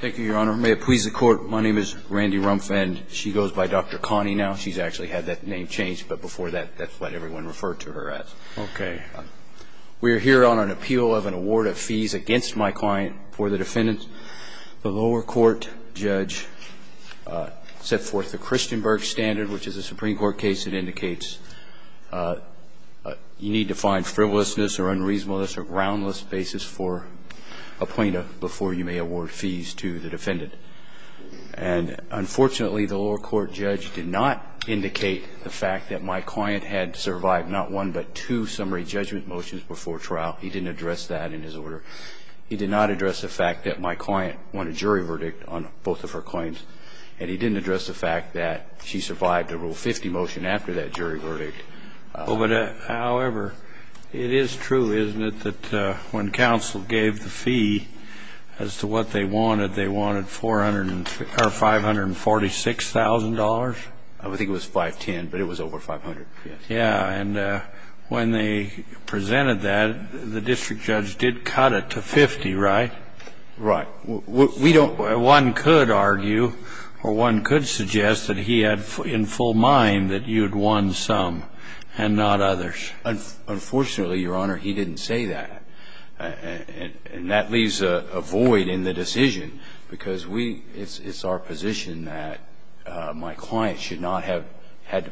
Thank you, Your Honor. May it please the Court, my name is Randy Rumph, and she goes by Dr. Connie now. She's actually had that name changed, but before that, that's what everyone referred to her as. Okay. We are here on an appeal of an award of fees against my client for the defendant. The lower court judge set forth the Christenberg standard, which is a Supreme Court case that indicates you need to find frivolousness or unreasonableness or groundless basis for a plaintiff before you may award fees to the defendant. And unfortunately, the lower court judge did not indicate the fact that my client had survived not one but two summary judgment motions before trial. He didn't address that in his order. He did not address the fact that my client won a jury verdict on both of her claims, and he didn't address the fact that she survived a Rule 50 motion after that jury verdict. But, however, it is true, isn't it, that when counsel gave the fee as to what they wanted, they wanted $546,000? I think it was $510,000, but it was over $500,000, yes. Yeah. And when they presented that, the district judge did cut it to $50,000, right? Right. Well, we don't ---- one could argue or one could suggest that he had in full mind that you had won some and not others. Unfortunately, Your Honor, he didn't say that. And that leaves a void in the decision, because we ---- it's our position that my client should not have had to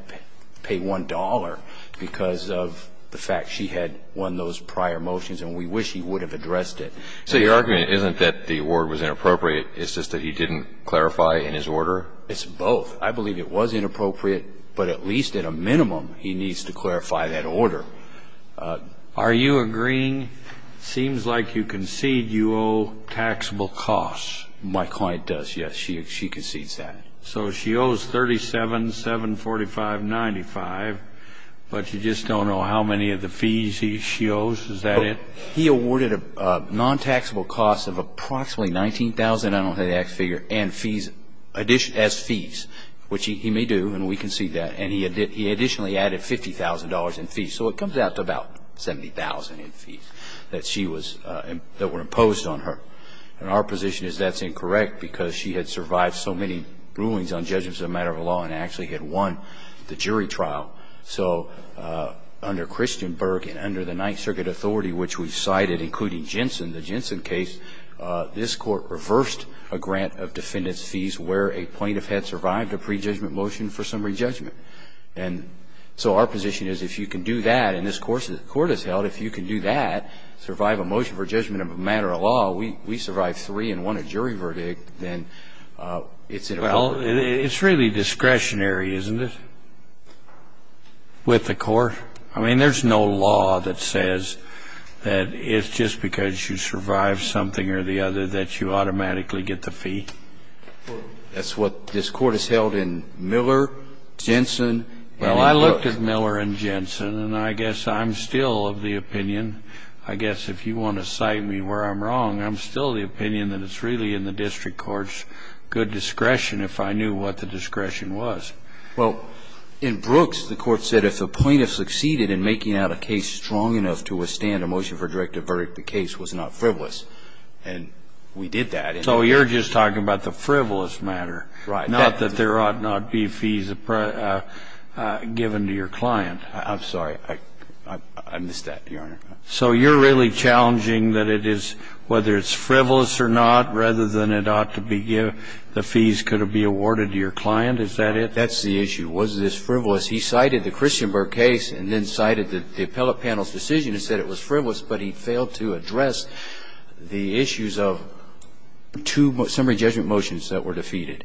pay $1 because of the fact she had won those prior motions, and we wish he would have addressed it. So your argument isn't that the award was inappropriate. It's just that he didn't clarify in his order? It's both. I believe it was inappropriate, but at least at a minimum he needs to clarify that order. Are you agreeing? It seems like you concede you owe taxable costs. My client does, yes. She concedes that. So she owes $37,745.95, but you just don't know how many of the fees she owes. Is that it? He awarded a non-taxable cost of approximately $19,000. I don't have the exact figure. And fees ---- as fees, which he may do, and we concede that. And he additionally added $50,000 in fees. So it comes out to about $70,000 in fees that she was ---- that were imposed on her. And our position is that's incorrect because she had survived so many rulings on judgments as a matter of law and actually had won the jury trial. So under Christenberg and under the Ninth Circuit authority, which we cited, including Jensen, the Jensen case, this Court reversed a grant of defendant's fees where a plaintiff had survived a prejudgment motion for summary judgment. And so our position is if you can do that, and this Court has held, if you can do that, survive a motion for judgment of a matter of law, we survived three and won a jury verdict, then it's inappropriate. Well, it's really discretionary, isn't it? With the Court? I mean, there's no law that says that it's just because you survived something or the other that you automatically get the fee. That's what this Court has held in Miller, Jensen, and in Look. Well, I looked at Miller and Jensen, and I guess I'm still of the opinion, I guess if you want to cite me where I'm wrong, I'm still of the opinion that it's really in the district court's good discretion if I knew what the discretion was. Well, in Brooks, the Court said if a plaintiff succeeded in making out a case strong enough to withstand a motion for directive verdict, the case was not frivolous. And we did that. So you're just talking about the frivolous matter. Right. Not that there ought not be fees given to your client. I'm sorry. I missed that, Your Honor. So you're really challenging that it is, whether it's frivolous or not, rather than it ought to be given, the fees could be awarded to your client. Is that it? That's the issue. Was this frivolous? He cited the Christianburg case and then cited the appellate panel's decision and said it was frivolous, but he failed to address the issues of two summary judgment motions that were defeated,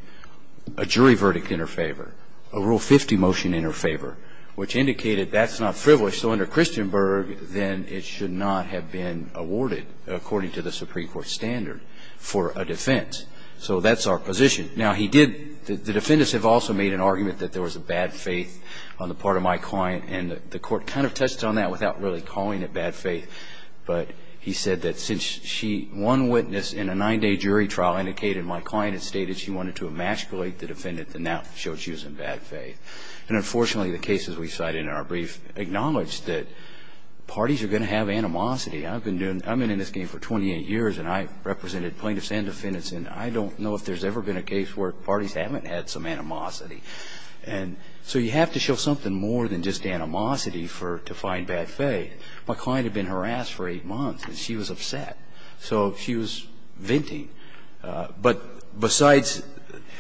a jury verdict in her favor, a Rule 50 motion in her favor, which indicated that's not frivolous. So under Christianburg, then it should not have been awarded, according to the Supreme Court standard, for a defense. So that's our position. Now, he did the defendants have also made an argument that there was a bad faith on the part of my client, and the Court kind of touched on that without really calling it bad faith. But he said that since she won witness in a 9-day jury trial, indicated my client had stated she wanted to emasculate the defendant, then that showed she was in bad faith. And unfortunately, the cases we cited in our brief acknowledged that parties are going to have animosity. I've been in this game for 28 years, and I've represented plaintiffs and defendants, and I don't know if there's ever been a case where parties haven't had some animosity. And so you have to show something more than just animosity for to find bad faith. My client had been harassed for 8 months, and she was upset. So she was venting. But besides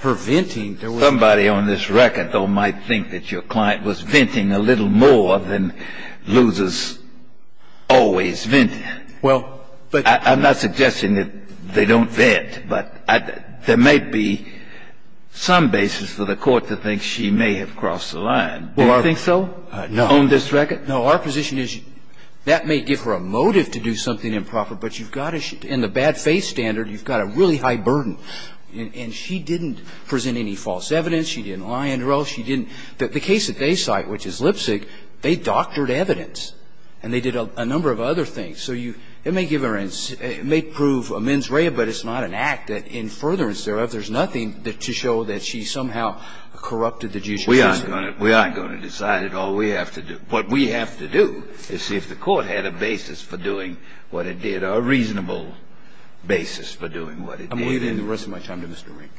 her venting, there was not. Kennedy. Somebody on this record, though, might think that your client was venting a little more than losers always vent. Well, but. I'm not suggesting that they don't vent. But there might be some basis for the Court to think she may have crossed the line. Do you think so? No. On this record? No. Our position is that may give her a motive to do something improper, but you've got to – in the bad faith standard, you've got a really high burden. And she didn't present any false evidence. She didn't lie under oath. She didn't – the case that they cite, which is Lipzig, they doctored evidence and they did a number of other things. So you – it may give her a – it may prove a mens rea, but it's not an act that in furtherance thereof, there's nothing to show that she somehow corrupted the judicial system. We aren't going to. We aren't going to decide it. All we have to do – what we have to do is see if the Court had a basis for doing what it did, a reasonable basis for doing what it did. I'm leaving the rest of my time to Mr. Rank.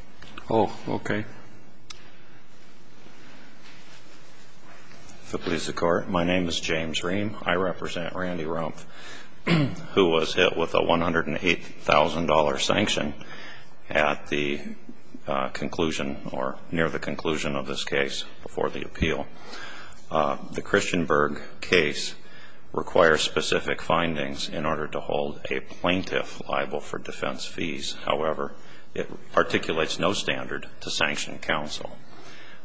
Oh, okay. If it pleases the Court, my name is James Ream. I represent Randy Rumpf, who was hit with a $108,000 sanction at the conclusion or near the conclusion of this case before the appeal. The Christianberg case requires specific findings in order to hold a plaintiff liable for defense fees. However, it articulates no standard to sanction counsel.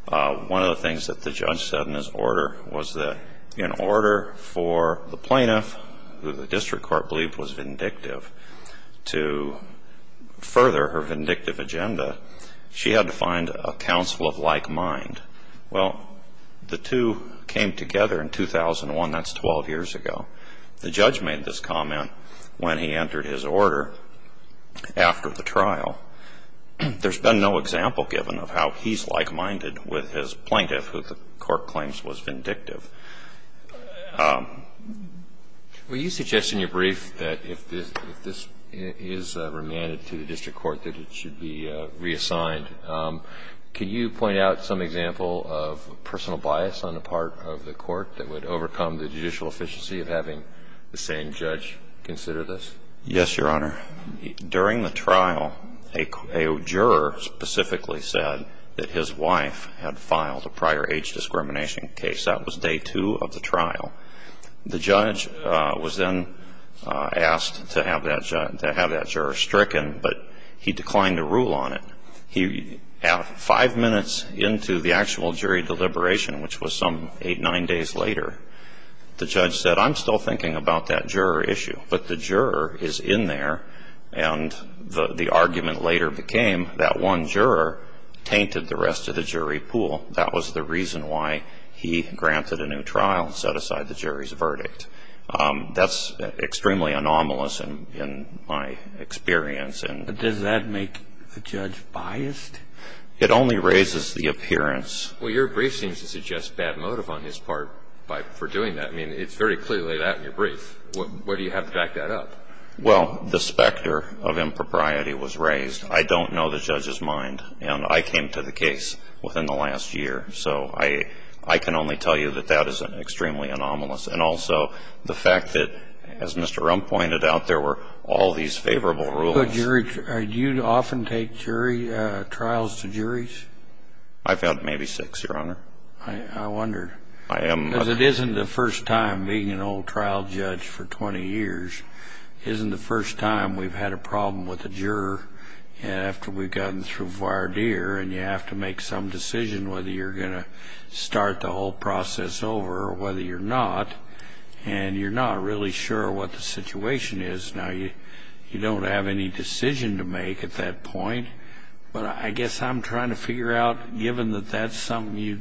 One of the things that the judge said in his order was that in order for the plaintiff, who the district court believed was vindictive, to further her vindictive agenda, she had to find a counsel of like mind. Well, the two came together in 2001. That's 12 years ago. The judge made this comment when he entered his order after the trial. There's been no example given of how he's like minded with his plaintiff, who the Court claims was vindictive. Well, you suggest in your brief that if this is remanded to the district court, that it should be reassigned. Can you point out some example of personal bias on the part of the Court that would have the same judge consider this? Yes, Your Honor. During the trial, a juror specifically said that his wife had filed a prior age discrimination case. That was day two of the trial. The judge was then asked to have that juror stricken, but he declined to rule on it. Five minutes into the actual jury deliberation, which was some eight, nine days later, the judge said, I'm still thinking about that juror issue. But the juror is in there, and the argument later became that one juror tainted the rest of the jury pool. That was the reason why he granted a new trial and set aside the jury's verdict. That's extremely anomalous in my experience. But does that make the judge biased? It only raises the appearance. Well, your brief seems to suggest bad motive on his part for doing that. I mean, it's very clearly that in your brief. Why do you have to back that up? Well, the specter of impropriety was raised. I don't know the judge's mind, and I came to the case within the last year. So I can only tell you that that is extremely anomalous. And also the fact that, as Mr. Rump pointed out, there were all these favorable rules. Do you often take jury trials to juries? I've held maybe six, Your Honor. I wonder. I am. Because it isn't the first time, being an old trial judge for 20 years, isn't the first time we've had a problem with a juror after we've gotten through voir dire, and you have to make some decision whether you're going to start the whole process over or whether you're not. And you're not really sure what the situation is. Now, you don't have any decision to make at that point. But I guess I'm trying to figure out, given that that's something you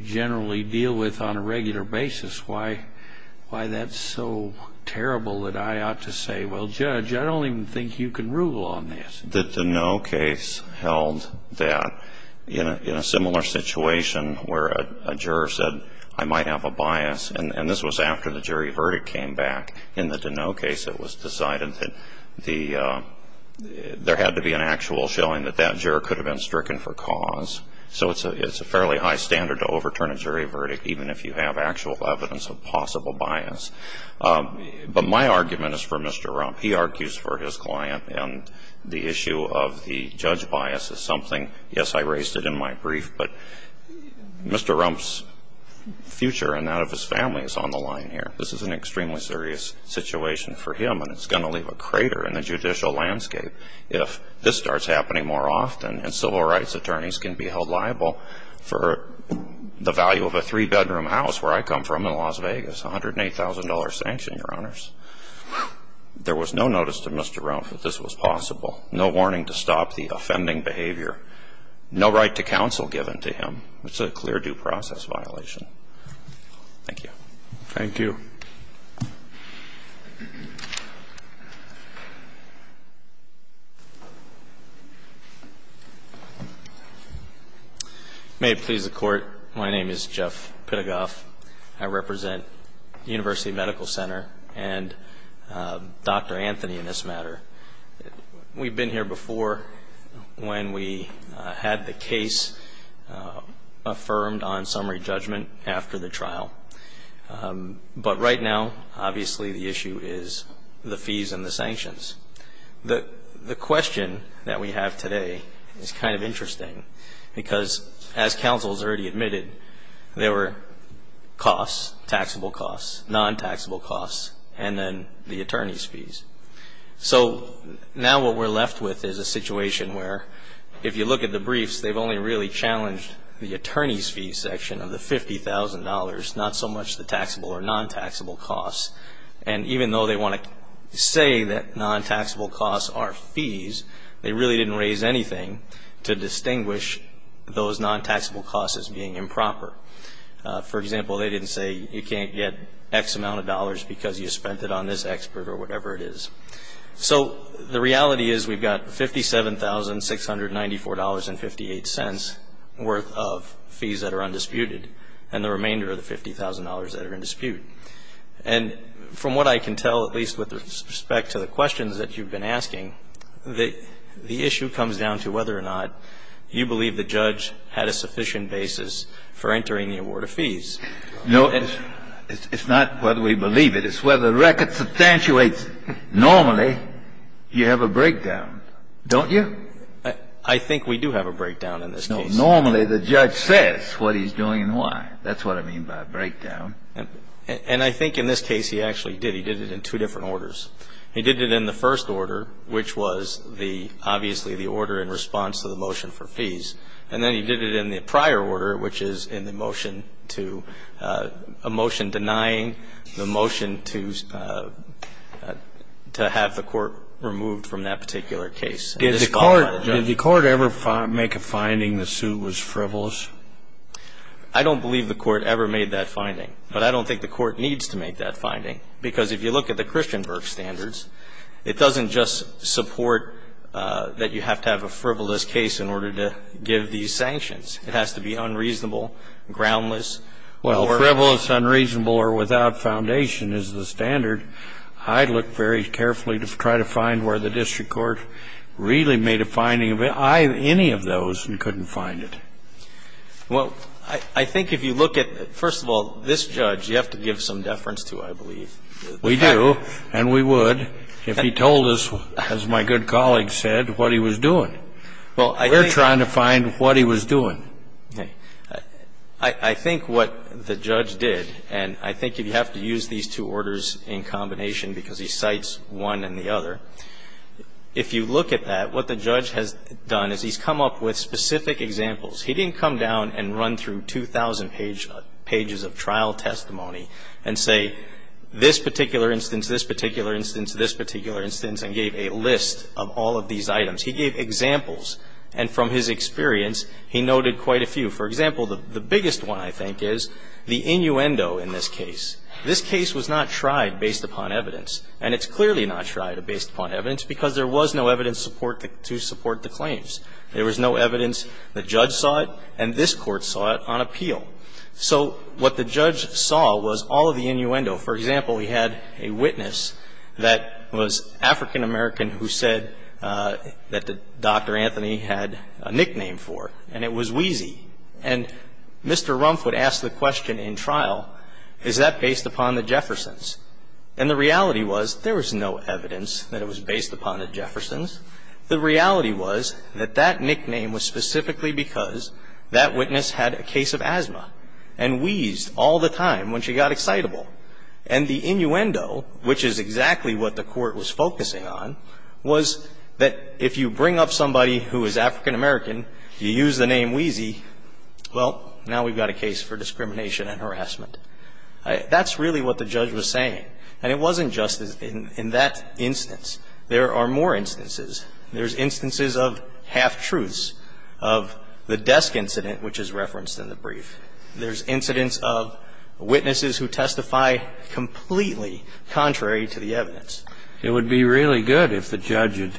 generally deal with on a regular basis, why that's so terrible that I ought to say, well, Judge, I don't even think you can rule on this. The Deneau case held that in a similar situation where a juror said, I might have a bias. And this was after the jury verdict came back. In the Deneau case, it was decided that there had to be an actual showing that that juror could have been stricken for cause. So it's a fairly high standard to overturn a jury verdict, even if you have actual evidence of possible bias. But my argument is for Mr. Rump. He argues for his client. And the issue of the judge bias is something, yes, I raised it in my brief, but Mr. Rump's future and that of his family is on the line here. This is an extremely serious situation for him, and it's going to leave a crater in the judicial landscape if this starts happening more often and civil rights attorneys can be held liable for the value of a three-bedroom house where I come from in Las Vegas, $108,000 sanction, Your Honors. There was no notice to Mr. Rump that this was possible. No warning to stop the offending behavior. No right to counsel given to him. It's a clear due process violation. Thank you. Thank you. May it please the Court. My name is Jeff Pittagoff. I represent the University Medical Center and Dr. Anthony in this matter. We've been here before when we had the case affirmed on summary judgment after the trial. But right now, obviously, the issue is the fees and the sanctions. The question that we have today is kind of interesting because, as counsel has already admitted, there were costs, taxable costs, non-taxable costs, and then the attorney's fees. So now what we're left with is a situation where if you look at the briefs, they've only really challenged the attorney's fee section of the $50,000, not so much the taxable or non-taxable costs. And even though they want to say that non-taxable costs are fees, they really didn't raise anything to distinguish those non-taxable costs as being improper. For example, they didn't say you can't get X amount of dollars because you spent it on this expert or whatever it is. So the reality is we've got $57,694.58 worth of fees that are undisputed and the remainder of the $50,000 that are in dispute. And from what I can tell, at least with respect to the questions that you've been asking, the issue comes down to whether or not you believe the judge had a sufficient basis for entering the award of fees. No. It's not whether we believe it. It's whether the record substantiates it. Normally, you have a breakdown, don't you? I think we do have a breakdown in this case. Normally, the judge says what he's doing and why. That's what I mean by a breakdown. And I think in this case he actually did. He did it in two different orders. He did it in the first order, which was the, obviously, the order in response to the motion for fees. And then he did it in the prior order, which is in the motion to a motion denying the motion to have the court removed from that particular case. Did the court ever make a finding the suit was frivolous? I don't believe the court ever made that finding. But I don't think the court needs to make that finding, because if you look at the Christian Burke standards, it doesn't just support that you have to have a frivolous case in order to give these sanctions. It has to be unreasonable, groundless. Well, frivolous, unreasonable, or without foundation is the standard. I'd look very carefully to try to find where the district court really made a finding of any of those and couldn't find it. Well, I think if you look at, first of all, this judge, you have to give some deference to, I believe. We do, and we would if he told us, as my good colleague said, what he was doing. Well, we're trying to find what he was doing. I think what the judge did, and I think you have to use these two orders in combination because he cites one and the other, if you look at that, what the judge has done is he's come up with specific examples. He didn't come down and run through 2,000 pages of trial testimony and say, this particular instance, this particular instance, this particular instance, and gave a list of all of these items. He gave examples, and from his experience, he noted quite a few. For example, the biggest one, I think, is the innuendo in this case. This case was not tried based upon evidence, and it's clearly not tried based upon evidence because there was no evidence to support the claims. There was no evidence. The judge saw it, and this Court saw it on appeal. So what the judge saw was all of the innuendo. For example, he had a witness that was African-American who said that Dr. Anthony had a nickname for, and it was Wheezy. And Mr. Rumph would ask the question in trial, is that based upon the Jeffersons? And the reality was there was no evidence that it was based upon the Jeffersons. The reality was that that nickname was specifically because that witness had a case of And the innuendo, which is exactly what the Court was focusing on, was that if you bring up somebody who is African-American, you use the name Wheezy, well, now we've got a case for discrimination and harassment. That's really what the judge was saying. And it wasn't just in that instance. There are more instances. There's instances of half-truths, of the desk incident, which is referenced in the brief. There's incidents of witnesses who testify completely contrary to the evidence. It would be really good if the judge had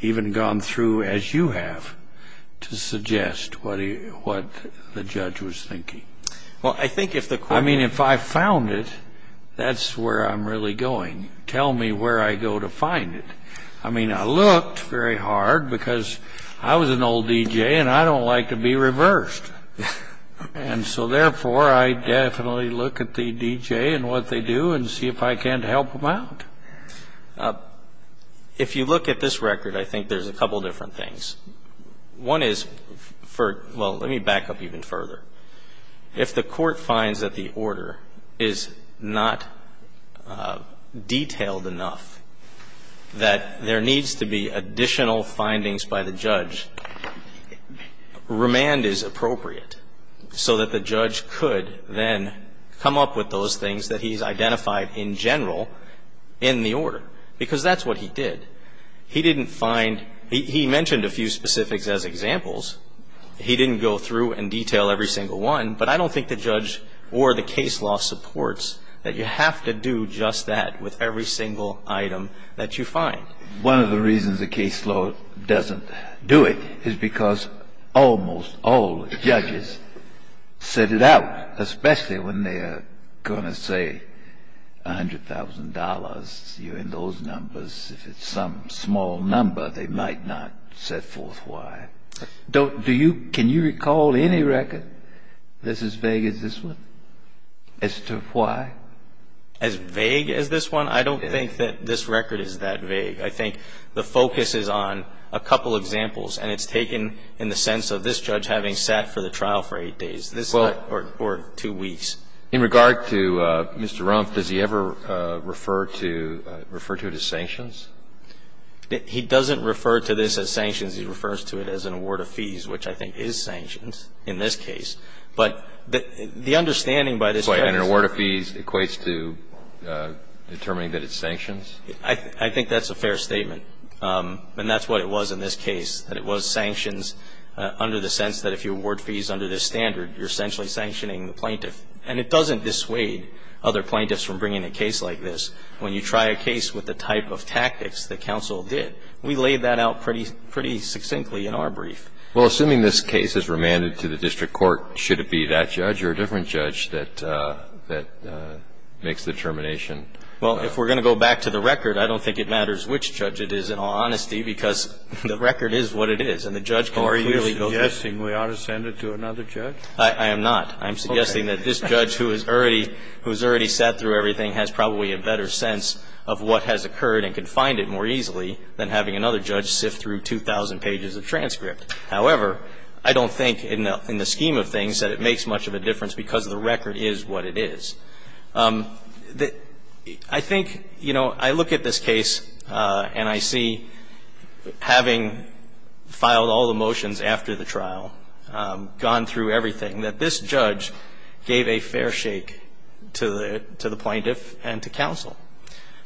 even gone through, as you have, to suggest what the judge was thinking. Well, I think if the Court had... I mean, if I found it, that's where I'm really going. Tell me where I go to find it. I mean, I looked very hard because I was an old DJ, and I don't like to be reversed. And so, therefore, I definitely look at the DJ and what they do and see if I can't help them out. If you look at this record, I think there's a couple different things. One is for, well, let me back up even further. If the Court finds that the order is not detailed enough, that there needs to be So that the judge could then come up with those things that he's identified in general in the order, because that's what he did. He didn't find... He mentioned a few specifics as examples. He didn't go through and detail every single one. But I don't think the judge or the case law supports that you have to do just that with every single item that you find. One of the reasons the case law doesn't do it is because almost all judges set it out, especially when they are going to say $100,000, you're in those numbers. If it's some small number, they might not set forth why. Can you recall any record that's as vague as this one as to why? As vague as this one? I don't think that this record is that vague. I think the focus is on a couple examples, and it's taken in the sense of this judge having sat for the trial for 8 days. This is not for 2 weeks. In regard to Mr. Rumpf, does he ever refer to it as sanctions? He doesn't refer to this as sanctions. He refers to it as an award of fees, which I think is sanctions in this case. But the understanding by this judge... And an award of fees equates to determining that it's sanctions? I think that's a fair statement, and that's what it was in this case, that it was sanctions under the sense that if you award fees under this standard, you're essentially sanctioning the plaintiff. And it doesn't dissuade other plaintiffs from bringing a case like this. When you try a case with the type of tactics that counsel did, we laid that out pretty succinctly in our brief. Well, assuming this case is remanded to the district court, should it be that judge or a different judge that makes the determination? Well, if we're going to go back to the record, I don't think it matters which judge it is, in all honesty, because the record is what it is. And the judge can clearly go... Are you suggesting we ought to send it to another judge? I am not. I'm suggesting that this judge who has already sat through everything has probably a better sense of what has occurred and can find it more easily than having another judge sift through 2,000 pages of transcript. However, I don't think in the scheme of things that it makes much of a difference because the record is what it is. I think, you know, I look at this case and I see, having filed all the motions after the trial, gone through everything, that this judge gave a fair shake to the plaintiff and to counsel.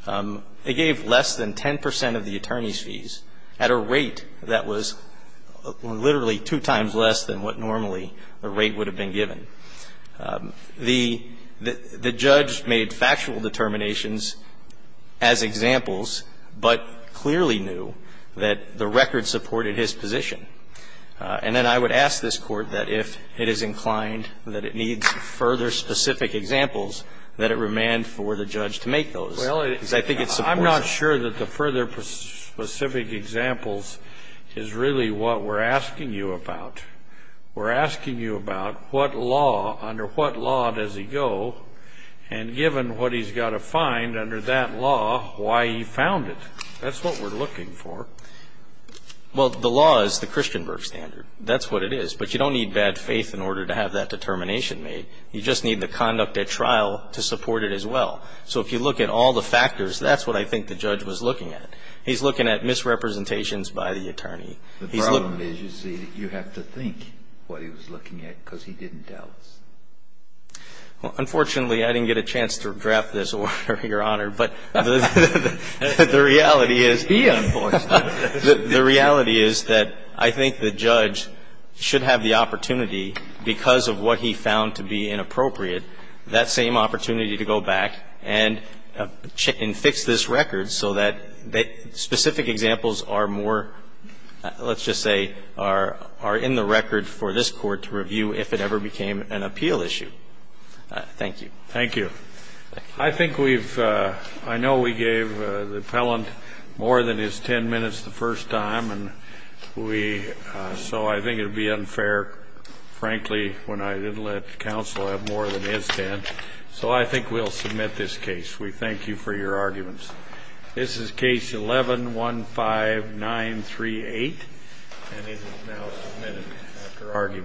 They gave less than 10 percent of the attorney's fees at a rate that was literally two times less than what normally the rate would have been given. The judge made factual determinations as examples, but clearly knew that the record supported his position. And then I would ask this Court that if it is inclined that it needs further specific examples, that it remand for the judge to make those. Well, I'm not sure that the further specific examples is really what we're asking you about. We're asking you about what law, under what law does he go, and given what he's got to find under that law, why he found it. That's what we're looking for. Well, the law is the Christianberg standard. That's what it is. But you don't need bad faith in order to have that determination made. You just need the conduct at trial to support it as well. So if you look at all the factors, that's what I think the judge was looking at. He's looking at misrepresentations by the attorney. He's looking at the attorney. The problem is, you see, you have to think what he was looking at because he didn't tell us. Well, unfortunately, I didn't get a chance to draft this order, Your Honor, but the reality is the reality is that I think the judge should have the opportunity because of what he found to be inappropriate, that same opportunity to go back and fix this record so that specific examples are more, let's just say, are in the record for this Court to review if it ever became an appeal issue. Thank you. Thank you. I think we've, I know we gave the appellant more than his 10 minutes the first time, so I think it would be unfair, frankly, when I didn't let counsel have more than his 10. So I think we'll submit this case. We thank you for your arguments. This is case 11-15938, and it is now submitted after argument.